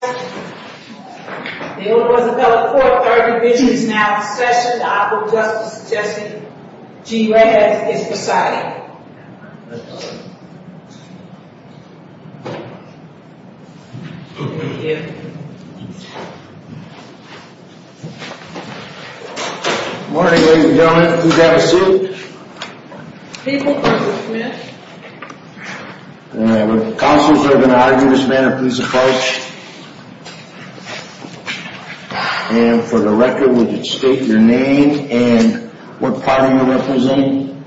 The Old Rosabella Court, Third Division, is now in session. The Honorable Justice Justice G. Reyes is presiding. Good morning ladies and gentlemen. Please have a seat. People for Mr. Smith. All right, would the counsels that are going to argue this matter please approach? And for the record, would you state your name and what party you're representing?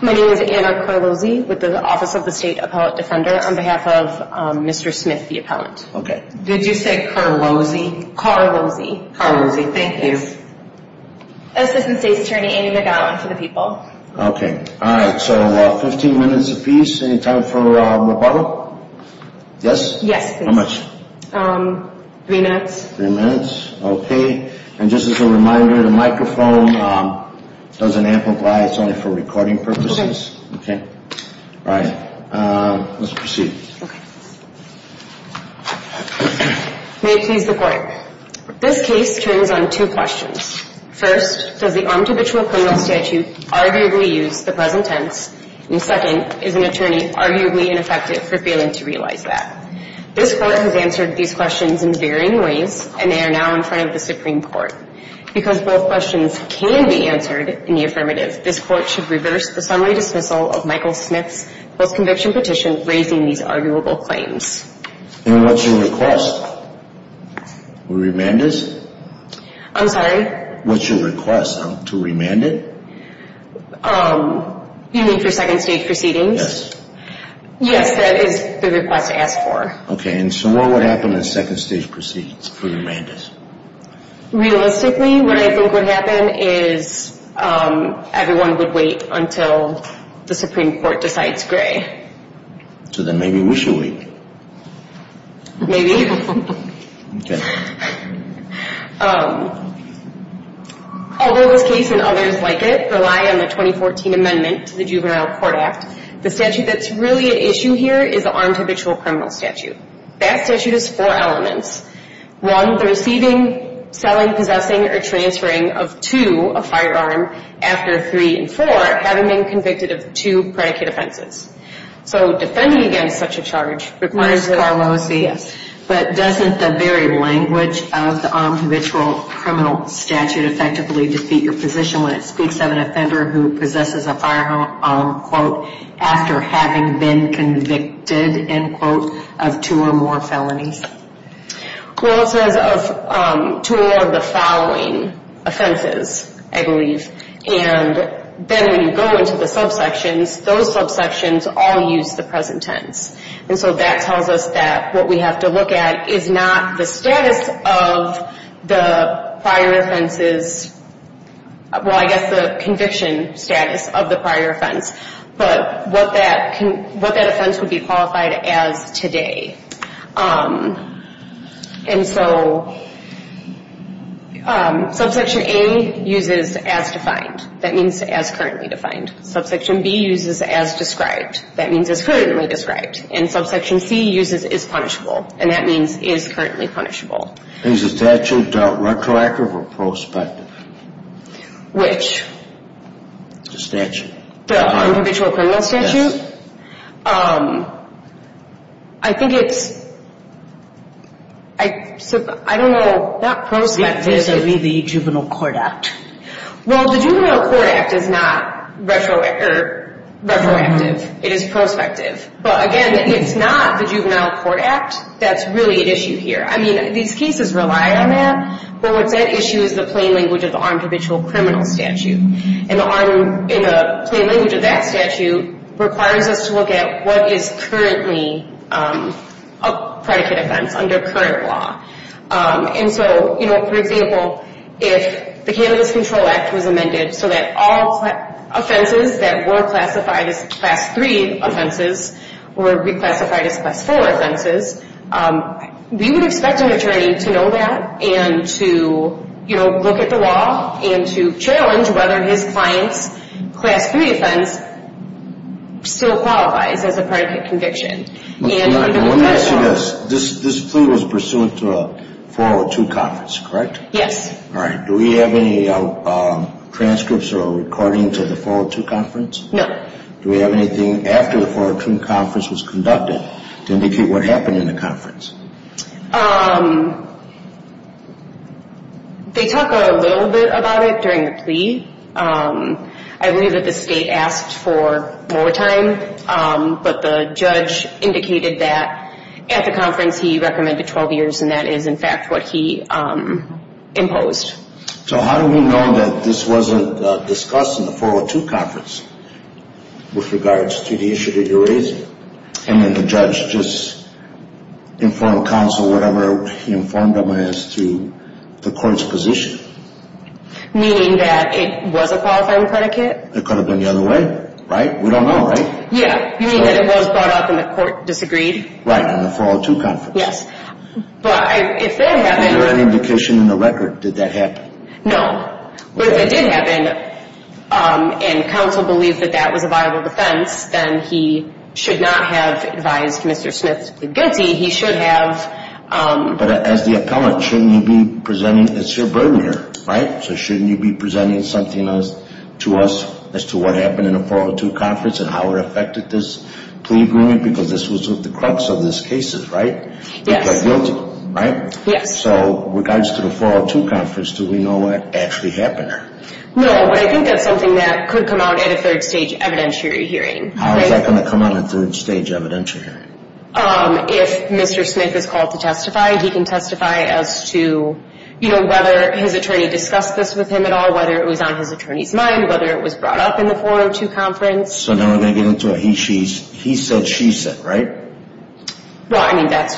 My name is Anna Carlozzi with the Office of the State Appellate Defender on behalf of Mr. Smith, the appellant. Okay. Did you say Carlozzi? Carlozzi. Carlozzi, thank you. Assistant State's Attorney Amy McGowan for the people. Okay. All right, so 15 minutes apiece. Any time for rebuttal? Yes. How much? Three minutes. Three minutes. Okay. And just as a reminder, the microphone doesn't amplify. It's only for recording purposes. Okay. Okay. All right. Let's proceed. Okay. May it please the Court. This case turns on two questions. First, does the armed habitual criminal statute arguably use the present tense? And second, is an attorney arguably ineffective for failing to realize that? This Court has answered these questions in varying ways, and they are now in front of the Supreme Court. Because both questions can be answered in the affirmative, this Court should reverse the summary dismissal of Michael Smith's post-conviction petition raising these arguable claims. And what's your request? Remand this? I'm sorry? What's your request? To remand it? You mean for second stage proceedings? Yes. Yes, that is the request to ask for. Okay. And so what would happen in second stage proceedings for remand this? Realistically, what I think would happen is everyone would wait until the Supreme Court decides gray. So then maybe we should wait. Maybe. Okay. Although this case and others like it rely on the 2014 amendment to the Juvenile Court Act, the statute that's really at issue here is the armed habitual criminal statute. That statute has four elements. One, the receiving, selling, possessing, or transferring of two, a firearm, after three and four, having been convicted of two predicate offenses. So defending against such a charge requires. Ms. Carlosi. Yes. But doesn't the very language of the armed habitual criminal statute effectively defeat your position when it speaks of an offender who possesses a firearm, quote, after having been convicted, end quote, of two or more felonies? Well, it says of two or more of the following offenses, I believe. And then when you go into the subsections, those subsections all use the present tense. And so that tells us that what we have to look at is not the status of the prior offenses. Well, I guess the conviction status of the prior offense, but what that offense would be qualified as today. And so subsection A uses as defined. That means as currently defined. Subsection B uses as described. That means as currently described. And subsection C uses as punishable. And that means as currently punishable. Is the statute retroactive or prospective? Which? The statute. The armed habitual criminal statute? Yes. I think it's, I don't know, not prospective. The juvenile court act. Well, the juvenile court act is not retroactive. It is prospective. But again, it's not the juvenile court act that's really at issue here. I mean, these cases rely on that. But what's at issue is the plain language of the armed habitual criminal statute. And the plain language of that statute requires us to look at what is currently a predicate offense under current law. And so, you know, for example, if the Candidates Control Act was amended so that all offenses that were classified as class 3 offenses were reclassified as class 4 offenses, we would expect an attorney to know that and to, you know, look at the law and to challenge whether his client's class 3 offense still qualifies as a predicate conviction. Let me ask you this. This plea was pursuant to a 402 conference, correct? Yes. All right. Do we have any transcripts or a recording to the 402 conference? No. Do we have anything after the 402 conference was conducted to indicate what happened in the conference? They talk a little bit about it during the plea. I believe that the state asked for more time, but the judge indicated that at the conference he recommended 12 years, and that is, in fact, what he imposed. So how do we know that this wasn't discussed in the 402 conference with regards to the issue that you're raising? And then the judge just informed counsel, whatever he informed them as to the court's position? Meaning that it was a qualifying predicate? It could have been the other way, right? We don't know, right? Yeah. You mean that it was brought up and the court disagreed? Right. On the 402 conference. Yes. But if that happened – Was there any indication in the record that that happened? No. But if it did happen and counsel believed that that was a viable defense, then he should not have advised Mr. Smith to plead guilty. He should have – But as the appellant, shouldn't you be presenting – it's your burden here, right? So shouldn't you be presenting something to us as to what happened in the 402 conference and how it affected this plea agreement? Because this was at the crux of this case, right? Yes. You pled guilty, right? Yes. So with regards to the 402 conference, do we know what actually happened there? No, but I think that's something that could come out at a third-stage evidentiary hearing. How is that going to come out at a third-stage evidentiary hearing? If Mr. Smith is called to testify, he can testify as to, you know, whether his attorney discussed this with him at all, whether it was on his attorney's mind, whether it was brought up in the 402 conference. So now we're going to get into a he, she, he said, she said, right? Well, I mean, that's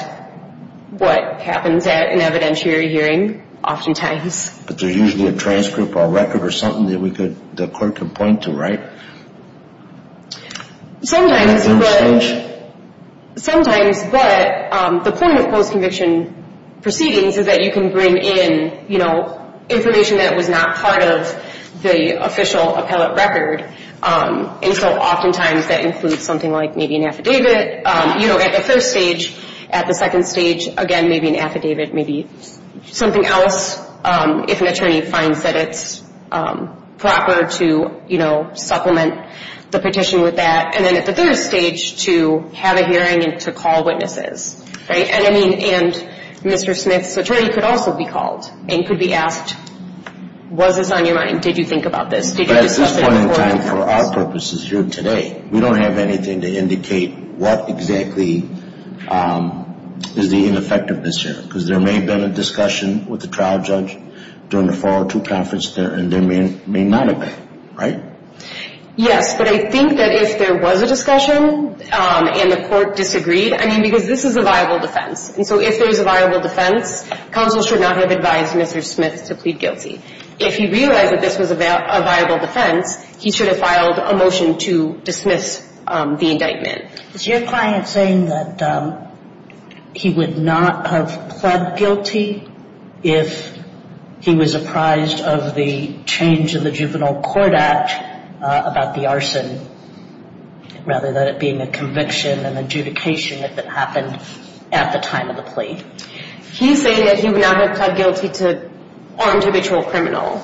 what happens at an evidentiary hearing oftentimes. But there's usually a transcript or a record or something that we could – the court could point to, right? Sometimes, but – Sometimes, but the point of post-conviction proceedings is that you can bring in, you know, information that was not part of the official appellate record. And so oftentimes that includes something like maybe an affidavit, you know, at the first stage. At the second stage, again, maybe an affidavit, maybe something else, if an attorney finds that it's proper to, you know, supplement the petition with that. And then at the third stage, to have a hearing and to call witnesses, right? And I mean – and Mr. Smith's attorney could also be called and could be asked, was this on your mind? Did you think about this? Did you do something before? But at this point in time, for our purposes here today, we don't have anything to indicate what exactly is the ineffectiveness here. Because there may have been a discussion with the trial judge during the 402 conference there, and there may not have been, right? Yes. But I think that if there was a discussion and the court disagreed, I mean, because this is a viable defense. And so if there's a viable defense, counsel should not have advised Mr. Smith to plead guilty. If he realized that this was a viable defense, he should have filed a motion to dismiss the indictment. Is your client saying that he would not have pled guilty if he was apprised of the change of the Juvenile Court Act about the arson, rather than it being a conviction and adjudication if it happened at the time of the plea? He's saying that he would not have pled guilty to armed habitual criminal.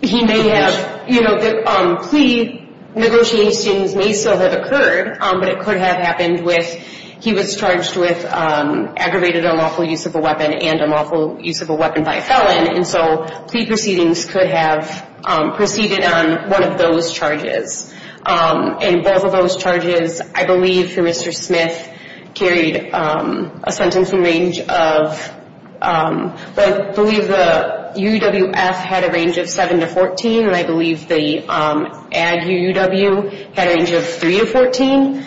He may have, you know, the plea negotiations may still have occurred, but it could have happened with he was charged with aggravated unlawful use of a weapon and unlawful use of a weapon by a felon. And so plea proceedings could have proceeded on one of those charges. And both of those charges, I believe, for Mr. Smith carried a sentencing range of, I believe the UUF had a range of 7 to 14, and I believe the ad UUW had a range of 3 to 14.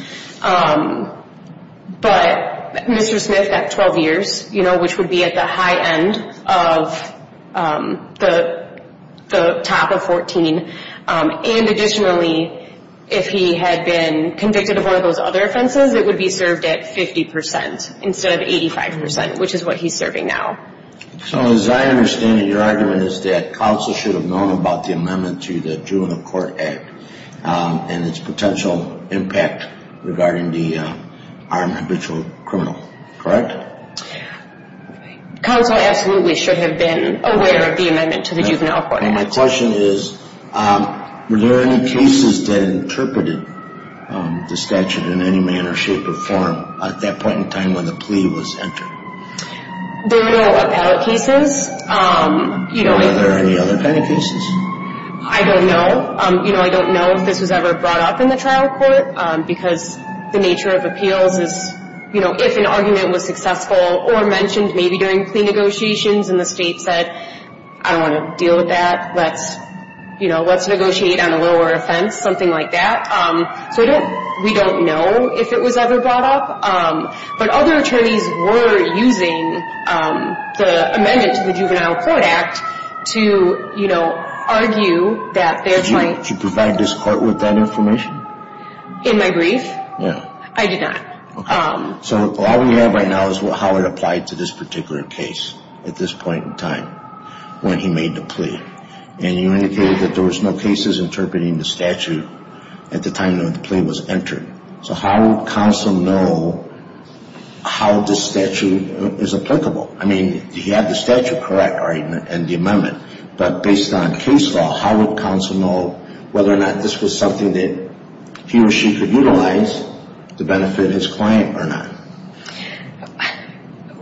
But Mr. Smith got 12 years, you know, which would be at the high end of the top of 14. And additionally, if he had been convicted of one of those other offenses, he says it would be served at 50 percent instead of 85 percent, which is what he's serving now. So as I understand it, your argument is that counsel should have known about the amendment to the Juvenile Court Act and its potential impact regarding the armed habitual criminal, correct? Counsel absolutely should have been aware of the amendment to the Juvenile Court Act. My question is were there any cases that interpreted the statute in any manner, shape, or form at that point in time when the plea was entered? There were no appellate cases. Were there any other kind of cases? I don't know. You know, I don't know if this was ever brought up in the trial court because the nature of appeals is, you know, if an argument was successful or mentioned maybe during plea negotiations and the state said, I don't want to deal with that. Let's, you know, let's negotiate on a lower offense, something like that. So we don't know if it was ever brought up. But other attorneys were using the amendment to the Juvenile Court Act to, you know, argue that there might. Did you provide this court with that information? In my brief? Yeah. I did not. So all we have right now is how it applied to this particular case at this point in time when he made the plea. And you indicated that there was no cases interpreting the statute at the time the plea was entered. So how would counsel know how this statute is applicable? I mean, he had the statute correct and the amendment, but based on case law, how would counsel know whether or not this was something that he or she could utilize to benefit his client or not?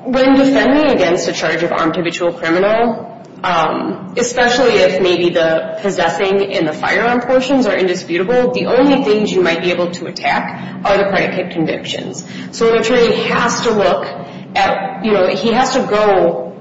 When defending against a charge of armed habitual criminal, especially if maybe the possessing in the firearm portions are indisputable, the only things you might be able to attack are the predicate convictions. So an attorney has to look at, you know, he has to go,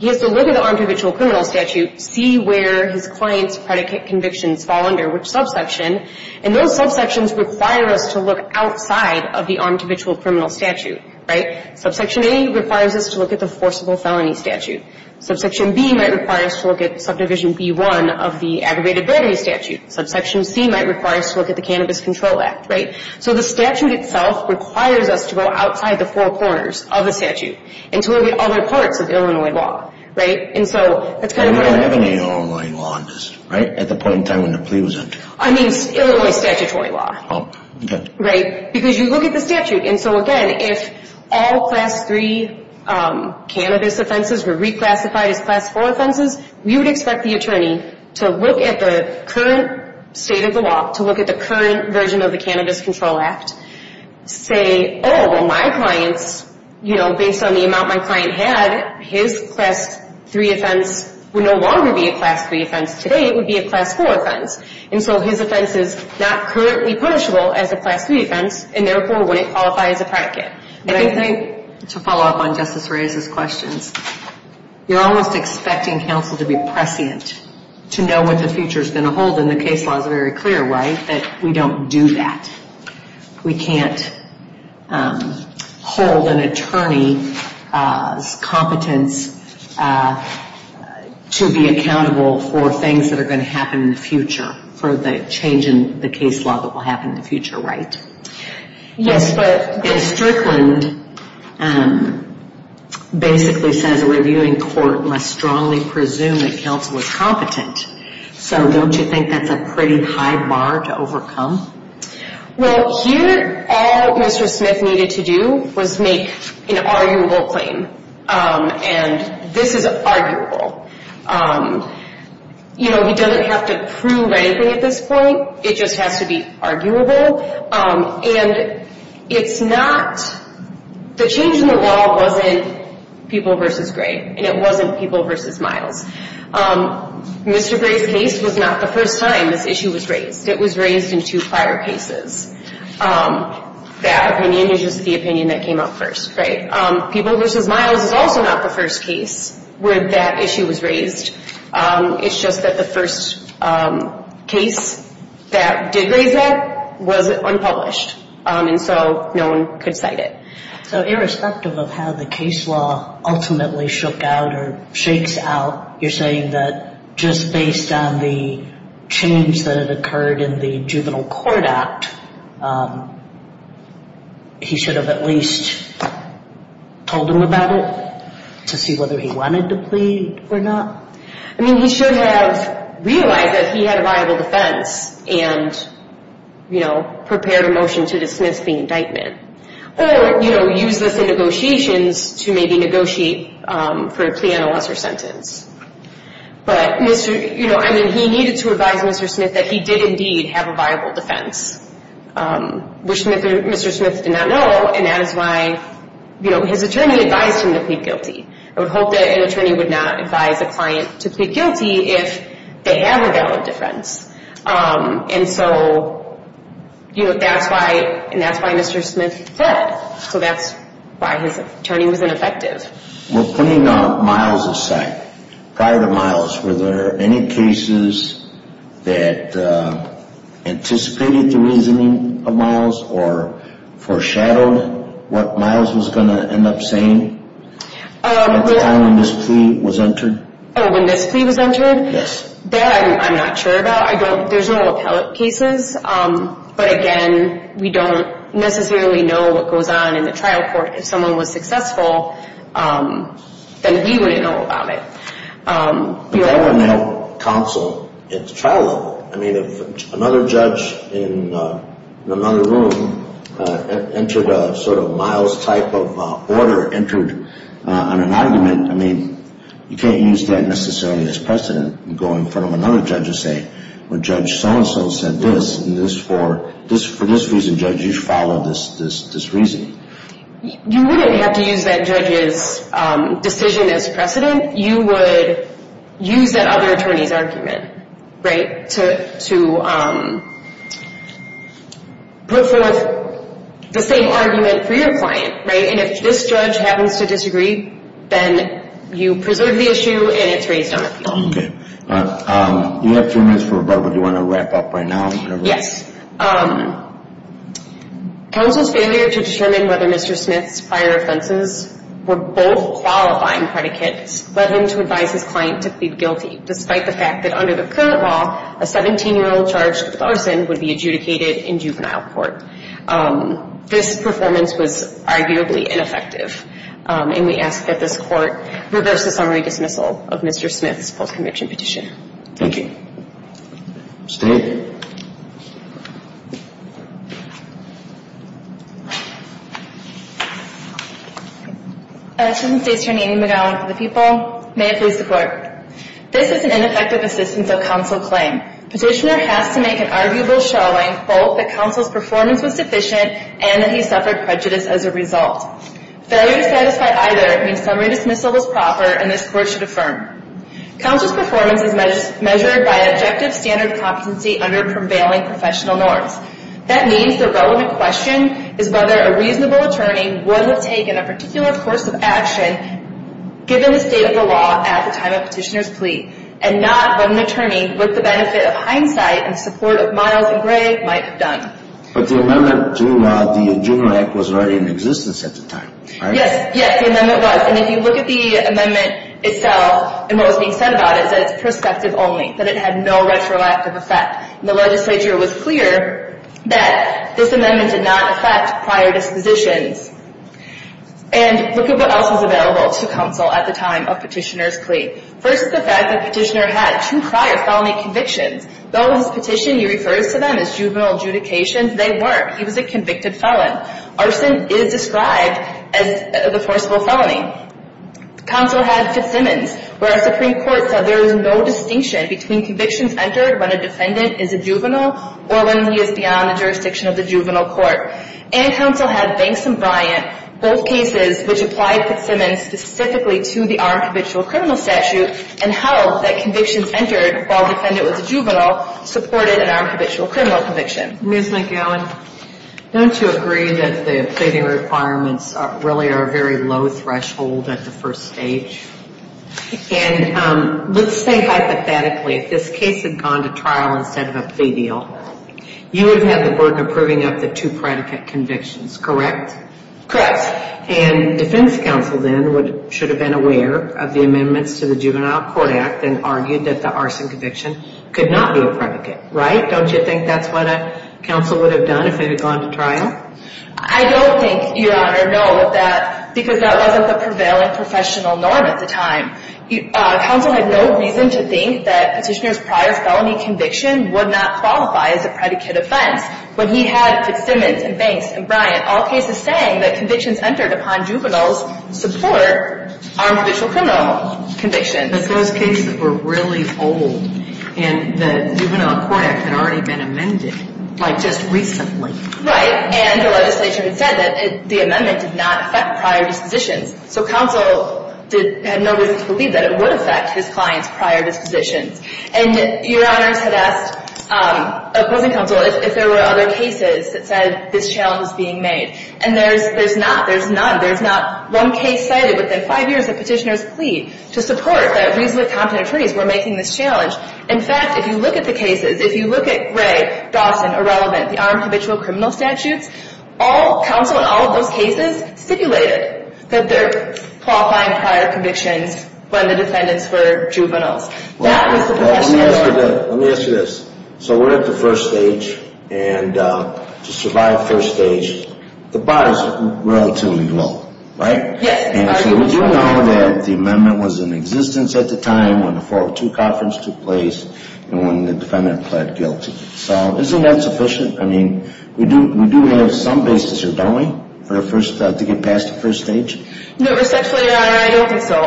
he has to look at the armed habitual criminal statute, see where his client's predicate convictions fall under which subsection, and those subsections require us to look outside of the armed habitual criminal statute. Right? Subsection A requires us to look at the forcible felony statute. Subsection B might require us to look at subdivision B-1 of the aggravated battery statute. Subsection C might require us to look at the Cannabis Control Act. Right? So the statute itself requires us to go outside the four corners of the statute and to look at other parts of Illinois law. Right? And so that's kind of where... And you don't have any Illinois law on this. Right? At the point in time when the plea was entered. I mean, Illinois statutory law. Oh. Okay. Right? Because you look at the statute. And so again, if all Class 3 cannabis offenses were reclassified as Class 4 offenses, you would expect the attorney to look at the current state of the law, to look at the current version of the Cannabis Control Act, say, oh, well, my clients, you know, based on the amount my client had, his Class 3 offense would no longer be a Class 3 offense. Today it would be a Class 4 offense. And so his offense is not currently punishable as a Class 3 offense and therefore wouldn't qualify as a predicate. And I think... To follow up on Justice Reyes' questions, you're almost expecting counsel to be prescient, to know what the future is going to hold. And the case law is very clear, right, that we don't do that. We can't hold an attorney's competence to be accountable for things that are going to happen in the future, for the change in the case law that will happen in the future, right? Yes, but in Strickland, basically says a reviewing court must strongly presume that counsel is competent. So don't you think that's a pretty high bar to overcome? Well, here, all Mr. Smith needed to do was make an arguable claim. And this is arguable. You know, he doesn't have to prove anything at this point. It just has to be arguable. And it's not... The change in the law wasn't People v. Gray, and it wasn't People v. Miles. Mr. Gray's case was not the first time this issue was raised. It was raised in two prior cases. That opinion is just the opinion that came up first, right? People v. Miles is also not the first case where that issue was raised. It's just that the first case that did raise that was unpublished. And so no one could cite it. So irrespective of how the case law ultimately shook out or shakes out, you're saying that just based on the change that had occurred in the Juvenile Court Act, he should have at least told them about it to see whether he wanted to plead or not? I mean, he should have realized that he had a viable defense and, you know, prepared a motion to dismiss the indictment. Or, you know, use this in negotiations to maybe negotiate for a plea on a lesser sentence. But, you know, I mean, he needed to advise Mr. Smith that he did indeed have a viable defense, which Mr. Smith did not know. And that is why, you know, his attorney advised him to plead guilty. I would hope that an attorney would not advise a client to plead guilty if they have a valid defense. And so, you know, that's why Mr. Smith fled. So that's why his attorney was ineffective. We're putting Miles aside. Prior to Miles, were there any cases that anticipated the reasoning of Miles or foreshadowed what Miles was going to end up saying at the time when this plea was entered? Oh, when this plea was entered? Yes. That I'm not sure about. There's no appellate cases. But, again, we don't necessarily know what goes on in the trial court. If someone was successful, then we wouldn't know about it. But that wouldn't help counsel at the trial level. I mean, if another judge in another room entered a sort of Miles type of order, entered on an argument, I mean, you can't use that necessarily as precedent and go in front of another judge and say, well, Judge so-and-so said this, and for this reason, Judge, you should follow this reasoning. You wouldn't have to use that judge's decision as precedent. You would use that other attorney's argument to put forth the same argument for your client. And if this judge happens to disagree, then you preserve the issue and it's raised on appeal. Okay. We have two minutes for rebuttal. Do you want to wrap up right now? Yes. Counsel's failure to determine whether Mr. Smith's prior offenses were both qualifying predicates led him to advise his client to plead guilty, despite the fact that under the current law, a 17-year-old charged with arson would be adjudicated in juvenile court. This performance was arguably ineffective, and we ask that this Court reverse the summary dismissal of Mr. Smith's post-conviction petition. Thank you. State. Assistant State Attorney Amy McGowan for the People. May it please the Court. This is an ineffective assistance of counsel claim. Petitioner has to make an arguable showing, quote, that counsel's performance was sufficient and that he suffered prejudice as a result. Failure to satisfy either means summary dismissal was proper and this Court should affirm. Counsel's performance is measured by objective standard of competency under prevailing professional norms. That means the relevant question is whether a reasonable attorney would have taken a particular course of action given the state of the law at the time of petitioner's plea, and not what an attorney with the benefit of hindsight and support of Miles and Gray might have done. But the amendment to the Juvenile Act was already in existence at the time, right? Yes. Yes, the amendment was. And if you look at the amendment itself and what was being said about it, it said it's perspective only, that it had no retroactive effect. The legislature was clear that this amendment did not affect prior dispositions. And look at what else was available to counsel at the time of petitioner's plea. First is the fact that petitioner had two prior felony convictions. Though his petition, he refers to them as juvenile adjudications, they weren't. He was a convicted felon. Arson is described as the forcible felony. Counsel had Fitzsimmons, where a Supreme Court said there is no distinction between convictions entered when a defendant is a juvenile or when he is beyond the jurisdiction of the juvenile court. And counsel had Banks and Bryant, both cases which applied Fitzsimmons specifically to the armed habitual criminal statute and held that convictions entered while the defendant was a juvenile supported an armed habitual criminal conviction. Ms. McGowan, don't you agree that the pleading requirements really are very low threshold at the first stage? And let's think hypothetically. If this case had gone to trial instead of a plea deal, you would have had the burden of proving up the two predicate convictions, correct? Correct. And defense counsel then should have been aware of the amendments to the Juvenile Court Act and argued that the arson conviction could not be a predicate, right? Don't you think that's what counsel would have done if it had gone to trial? I don't think, Your Honor, no, because that wasn't the prevailing professional norm at the time. Counsel had no reason to think that petitioner's prior felony conviction would not qualify as a predicate offense. But he had Fitzsimmons and Banks and Bryant, all cases saying that convictions entered upon juveniles support armed habitual criminal convictions. But those cases were really old, and the Juvenile Court Act had already been amended, like just recently. Right. And the legislation said that the amendment did not affect prior dispositions. So counsel had no reason to believe that it would affect his clients' prior dispositions. And Your Honors had asked opposing counsel if there were other cases that said this challenge was being made. And there's not. There's none. One case cited within five years that petitioners plead to support that reasonably competent attorneys were making this challenge. In fact, if you look at the cases, if you look at Gray, Dawson, Irrelevant, the armed habitual criminal statutes, all counsel in all of those cases stipulated that they're qualifying prior convictions when the defendants were juveniles. That was the professional norm. Let me ask you this. So we're at the first stage, and to survive first stage, the bar is relatively low, right? Yes. And so we do know that the amendment was in existence at the time when the 402 conference took place and when the defendant pled guilty. So isn't that sufficient? I mean, we do have some basis here, don't we, to get past the first stage? No, respectfully, Your Honor, I don't think so.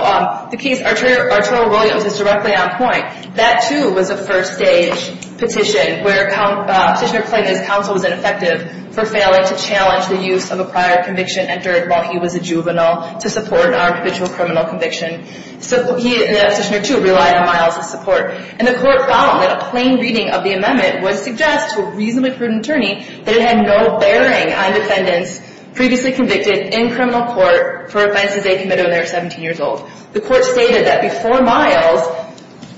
The case Arturo Williams is directly on point. That, too, was a first stage petition where Petitioner claimed his counsel was ineffective for failing to challenge the use of a prior conviction entered while he was a juvenile to support an armed habitual criminal conviction. Petitioner, too, relied on Miles' support. And the court found that a plain reading of the amendment would suggest to a reasonably prudent attorney that it had no bearing on defendants previously convicted in criminal court for offenses they committed when they were 17 years old. The court stated that before Miles,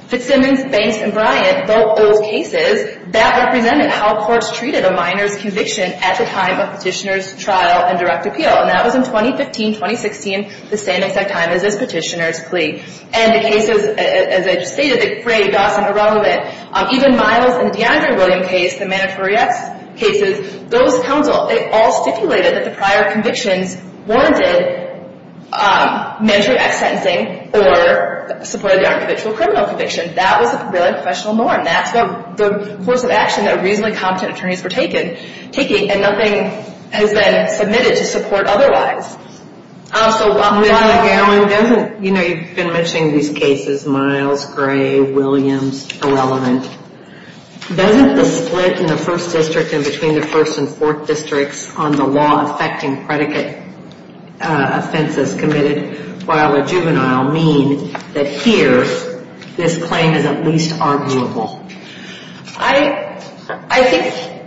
Fitzsimmons, Banks, and Bryant, both those cases, that represented how courts treated a minor's conviction at the time of Petitioner's trial and direct appeal. And that was in 2015-2016, the same exact time as this Petitioner's plea. And the cases, as I just stated, they frayed us and irrelevant. Even Miles and the DeAndre Williams case, the mandatory X cases, those counsel, they all stipulated that the prior convictions warranted mandatory X sentencing or supported the armed habitual criminal conviction. That was a really professional norm. That's the course of action that reasonably competent attorneys were taking. And nothing has been submitted to support otherwise. So while- You know, you've been mentioning these cases, Miles, Gray, Williams, irrelevant. Doesn't the split in the first district and between the first and fourth districts on the law affecting predicate offenses committed while a juvenile mean that here this claim is at least arguable? I think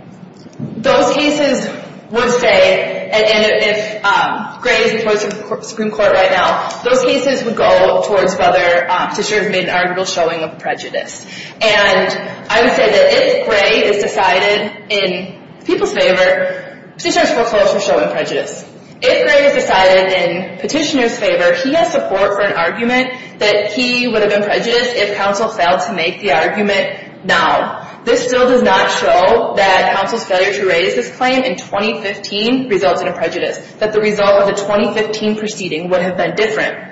those cases would say, and if Gray is the Supreme Court right now, those cases would go towards whether Petitioner made an arguable showing of prejudice. And I would say that if Gray is decided in people's favor, Petitioner's foreclosure showing prejudice. If Gray is decided in Petitioner's favor, he has support for an argument that he would have been prejudiced if counsel failed to make the argument now. This still does not show that counsel's failure to raise this claim in 2015 resulted in prejudice, that the result of the 2015 proceeding would have been different.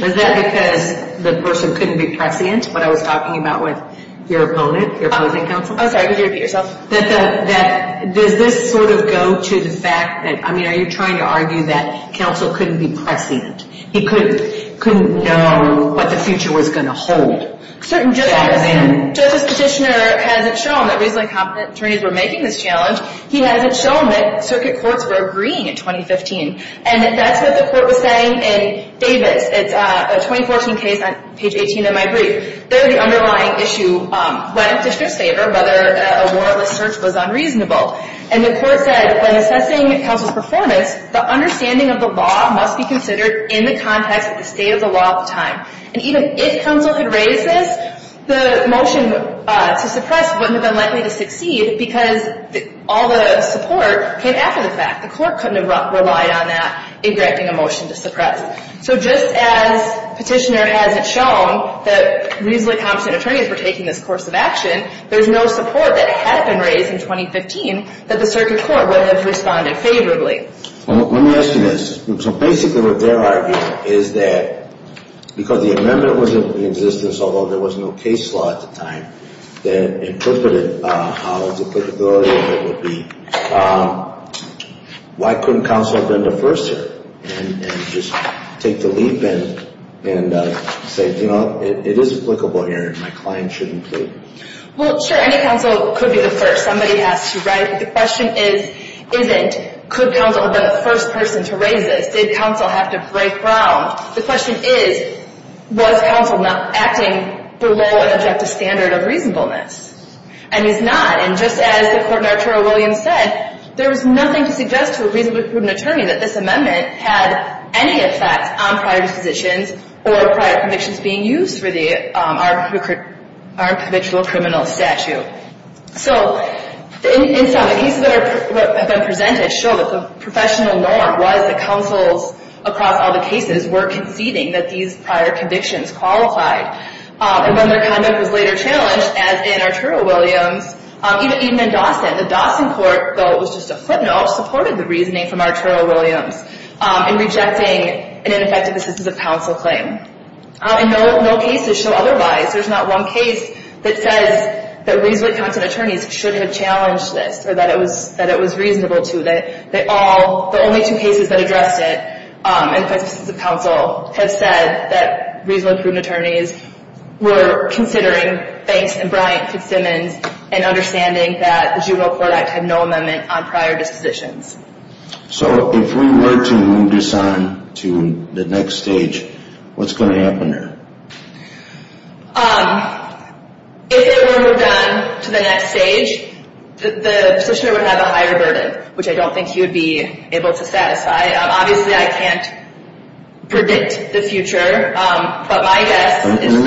Was that because the person couldn't be prescient, what I was talking about with your opponent, your opposing counsel? I'm sorry, could you repeat yourself? Does this sort of go to the fact that, I mean, are you trying to argue that counsel couldn't be prescient? He couldn't know what the future was going to hold? Certain judges. Justice Petitioner hasn't shown that reasonably competent attorneys were making this challenge. He hasn't shown that circuit courts were agreeing in 2015. And that's what the court was saying in Davis. It's a 2014 case on page 18 of my brief. There the underlying issue went to Petitioner's favor, whether a warrantless search was unreasonable. And the court said, when assessing counsel's performance, the understanding of the law must be considered in the context of the state of the law at the time. And even if counsel had raised this, the motion to suppress wouldn't have been likely to succeed because all the support came after the fact. The court couldn't have relied on that in directing a motion to suppress. So just as Petitioner hasn't shown that reasonably competent attorneys were taking this course of action, there's no support that had been raised in 2015 that the circuit court would have responded favorably. Let me ask you this. So basically what they're arguing is that because the amendment was in existence, although there was no case law at the time, that interpreted how duplicability of it would be, why couldn't counsel have been the first here and just take the leap and say, you know, it is applicable here and my client shouldn't plead? Well, sure, any counsel could be the first. Somebody has to write. The question isn't, could counsel have been the first person to raise this? Did counsel have to break ground? The question is, was counsel not acting below an objective standard of reasonableness? And he's not. And just as the Court in Arturo Williams said, there was nothing to suggest to a reasonably prudent attorney that this amendment had any effect on prior dispositions or prior convictions being used for the armed provincial criminal statute. So in sum, the cases that have been presented show that the professional norm was that they were conceding that these prior convictions qualified. And then their conduct was later challenged, as in Arturo Williams, even in Dawson. The Dawson court, though it was just a footnote, supported the reasoning from Arturo Williams in rejecting an ineffective assistance of counsel claim. And no cases show otherwise. There's not one case that says that reasonably competent attorneys shouldn't have challenged this or that it was reasonable to. They all, the only two cases that addressed it, and if that's the counsel, have said that reasonably prudent attorneys were considering banks and Bryant Fitzsimmons and understanding that the Juvenile Court Act had no amendment on prior dispositions. So if we were to move this on to the next stage, what's going to happen there? If it were done to the next stage, the positioner would have a higher burden, which I don't think he would be able to satisfy. Obviously, I can't predict the future, but my guess is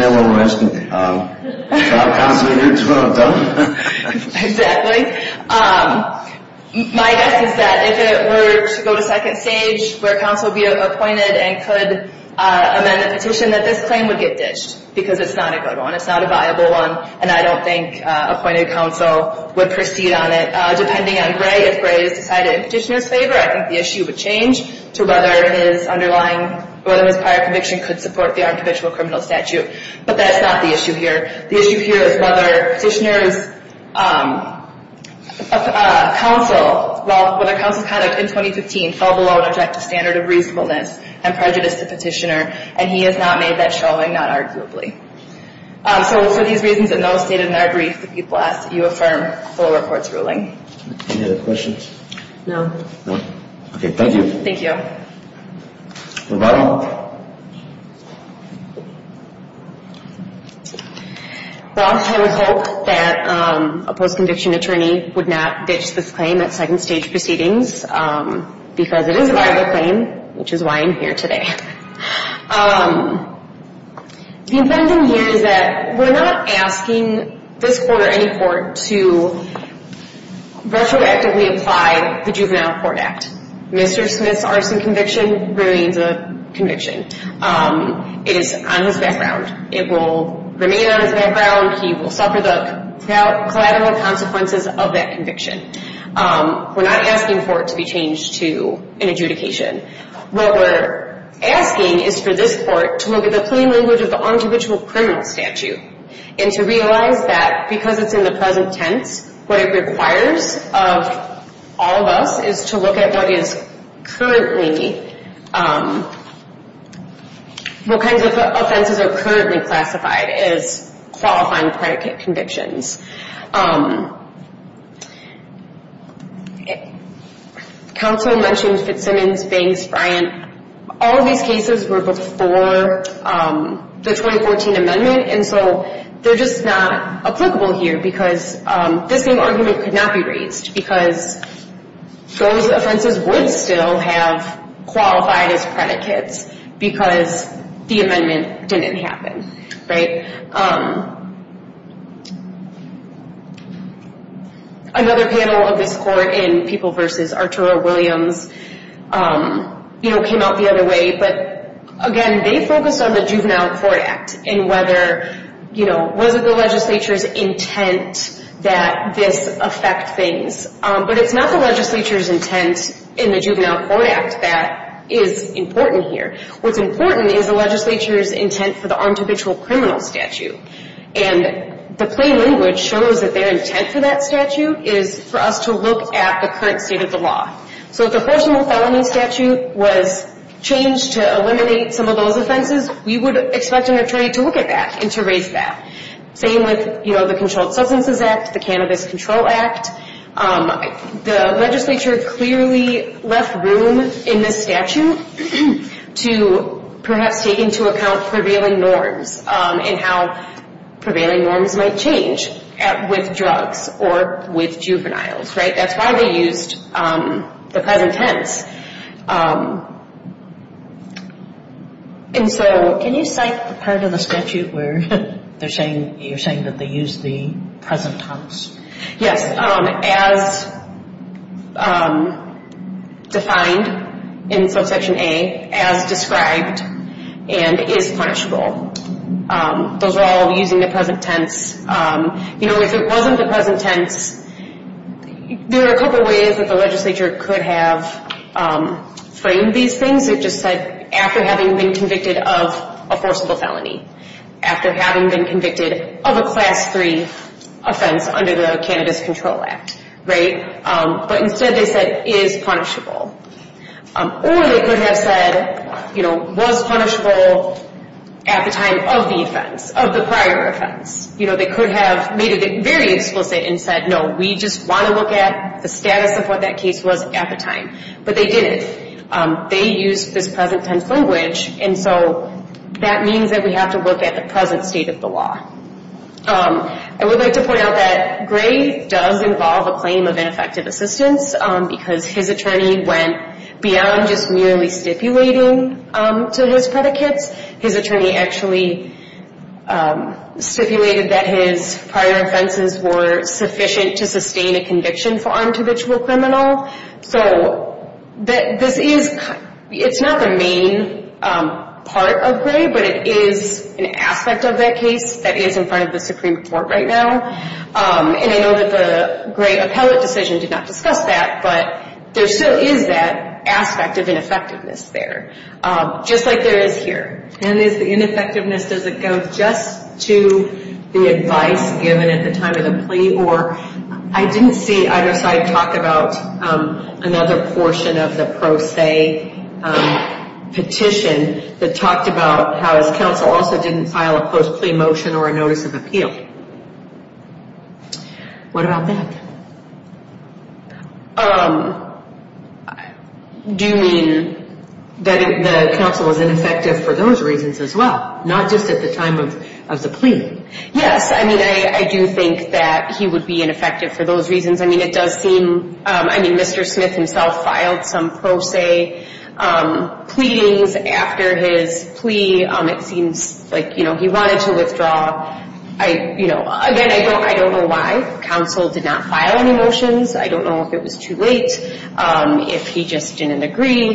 that if it were to go to second stage, where counsel would be appointed and could amend the petition, that this claim would get ditched because it's not a good one. It's not a viable one, and I don't think appointed counsel would proceed on it. Now, depending on Gray, if Gray is decided in petitioner's favor, I think the issue would change to whether his underlying, whether his prior conviction could support the armed habitual criminal statute. But that's not the issue here. The issue here is whether petitioner's counsel, well, whether counsel's conduct in 2015 fell below an objective standard of reasonableness and prejudice to petitioner, and he has not made that showing, not arguably. So for these reasons, and those stated in our brief that people asked, you affirm full report's ruling. Any other questions? No. No. Okay, thank you. Thank you. Well, I would hope that a post-conviction attorney would not ditch this claim at second stage proceedings because it is a viable claim, which is why I'm here today. The impending here is that we're not asking this court or any court to retroactively apply the Juvenile Court Act. Mr. Smith's arson conviction remains a conviction. It is on his background. It will remain on his background. He will suffer the collateral consequences of that conviction. We're not asking for it to be changed to an adjudication. What we're asking is for this court to look at the plain language of the on-judicial criminal statute and to realize that because it's in the present tense, what it requires of all of us is to look at what is currently, what kinds of offenses are currently classified as qualifying predicate convictions. Counsel mentioned Fitzsimmons, Banks, Bryant. All of these cases were before the 2014 amendment, and so they're just not applicable here because this same argument could not be raised because those offenses would still have qualified as predicates because the amendment didn't happen, right? Another panel of this court in People v. Arturo Williams came out the other way, but again, they focused on the Juvenile Court Act and whether, you know, was it the legislature's intent that this affect things, but it's not the legislature's intent in the Juvenile Court Act that is important here. What's important is the legislature's intent for the on-judicial criminal statute, and the plain language shows that their intent for that statute is for us to look at the current state of the law. So if the personal felony statute was changed to eliminate some of those offenses, we would expect an attorney to look at that and to raise that. Same with, you know, the Controlled Substances Act, the Cannabis Control Act. The legislature clearly left room in this statute to perhaps take into account prevailing norms and how prevailing norms might change with drugs or with juveniles, right? That's why they used the present tense. And so can you cite the part of the statute where you're saying that they used the present tense? Yes, as defined in Subsection A, as described, and is punishable. Those are all using the present tense. You know, if it wasn't the present tense, there are a couple ways that the legislature could have framed these things. It just said, after having been convicted of a forcible felony, after having been convicted of a Class III offense under the Cannabis Control Act, right? But instead they said, is punishable. Or they could have said, you know, was punishable at the time of the offense, of the prior offense. You know, they could have made it very explicit and said, no, we just want to look at the status of what that case was at the time. But they didn't. They used this present tense language. And so that means that we have to look at the present state of the law. I would like to point out that Gray does involve a claim of ineffective assistance because his attorney went beyond just merely stipulating to his predicates. His attorney actually stipulated that his prior offenses were sufficient to sustain a conviction for untabitual criminal. So this is, it's not the main part of Gray, but it is an aspect of that case that is in front of the Supreme Court right now. And I know that the Gray appellate decision did not discuss that, but there still is that aspect of ineffectiveness there. Just like there is here. And is the ineffectiveness, does it go just to the advice given at the time of the plea? Or I didn't see either side talk about another portion of the pro se petition that talked about how his counsel also didn't file a post-plea motion or a notice of appeal. What about that? Do you mean that the counsel was ineffective for those reasons as well, not just at the time of the plea? Yes. I mean, I do think that he would be ineffective for those reasons. I mean, it does seem, I mean, Mr. Smith himself filed some pro se pleadings after his plea. It seems like, you know, he wanted to withdraw. I, you know, again, I don't know why. Counsel did not file any motions. I don't know if it was too late, if he just didn't agree.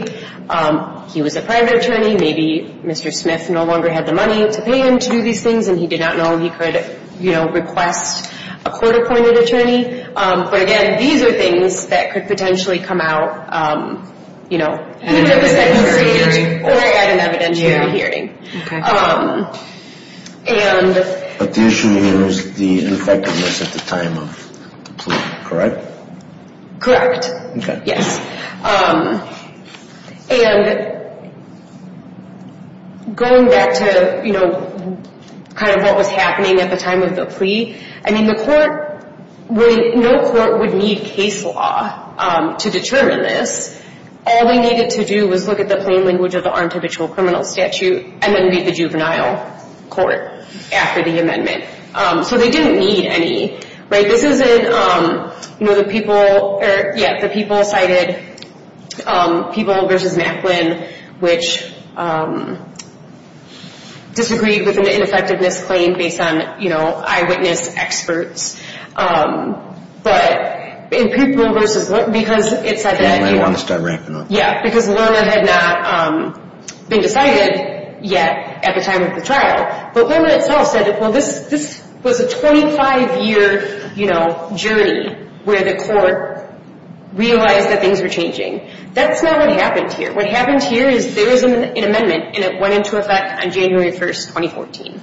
He was a private attorney. Maybe Mr. Smith no longer had the money to pay him to do these things, and he did not know he could, you know, request a court-appointed attorney. But, again, these are things that could potentially come out, you know, even at a second hearing or at an evidentiary hearing. But the issue here is the ineffectiveness at the time of the plea, correct? Correct. Yes. And going back to, you know, kind of what was happening at the time of the plea, I mean, the court would, no court would need case law to determine this. All they needed to do was look at the plain language of the armed habitual criminal statute and then meet the juvenile court after the amendment. So they didn't need any, right? This is in, you know, the people, yeah, the people cited, people versus Macklin, which disagreed with an ineffectiveness claim based on, you know, eyewitness experts. But in people versus, because it said that you... Macklin wanted to start ramping up. Yeah, because Lerner had not been decided yet at the time of the trial. But Lerner itself said, well, this was a 25-year, you know, journey where the court realized that things were changing. That's not what happened here. What happened here is there was an amendment and it went into effect on January 1, 2014.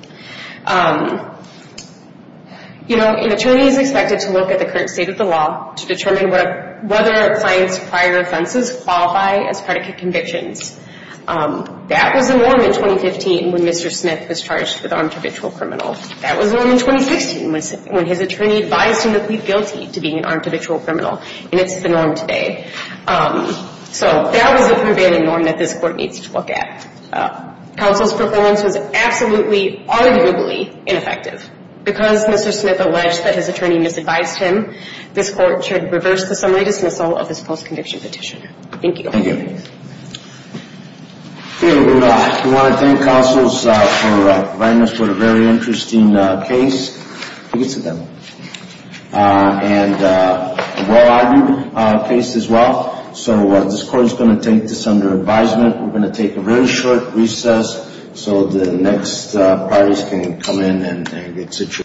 You know, an attorney is expected to look at the current state of the law to determine whether a client's prior offenses qualify as predicate convictions. That was the norm in 2015 when Mr. Smith was charged with armed habitual criminal. That was the norm in 2016 when his attorney advised him to plead guilty to being an armed habitual criminal. And it's the norm today. So that was the prevailing norm that this Court needs to look at. Counsel's performance was absolutely, arguably ineffective. Because Mr. Smith alleged that his attorney misadvised him, this Court should reverse the summary dismissal of this post-conviction petition. Thank you. Thank you. We want to thank counsels for providing us with a very interesting case. You can sit down. And a well-argued case as well. So this Court is going to take this under advisement. We're going to take a very short recess so the next parties can come in and get situated.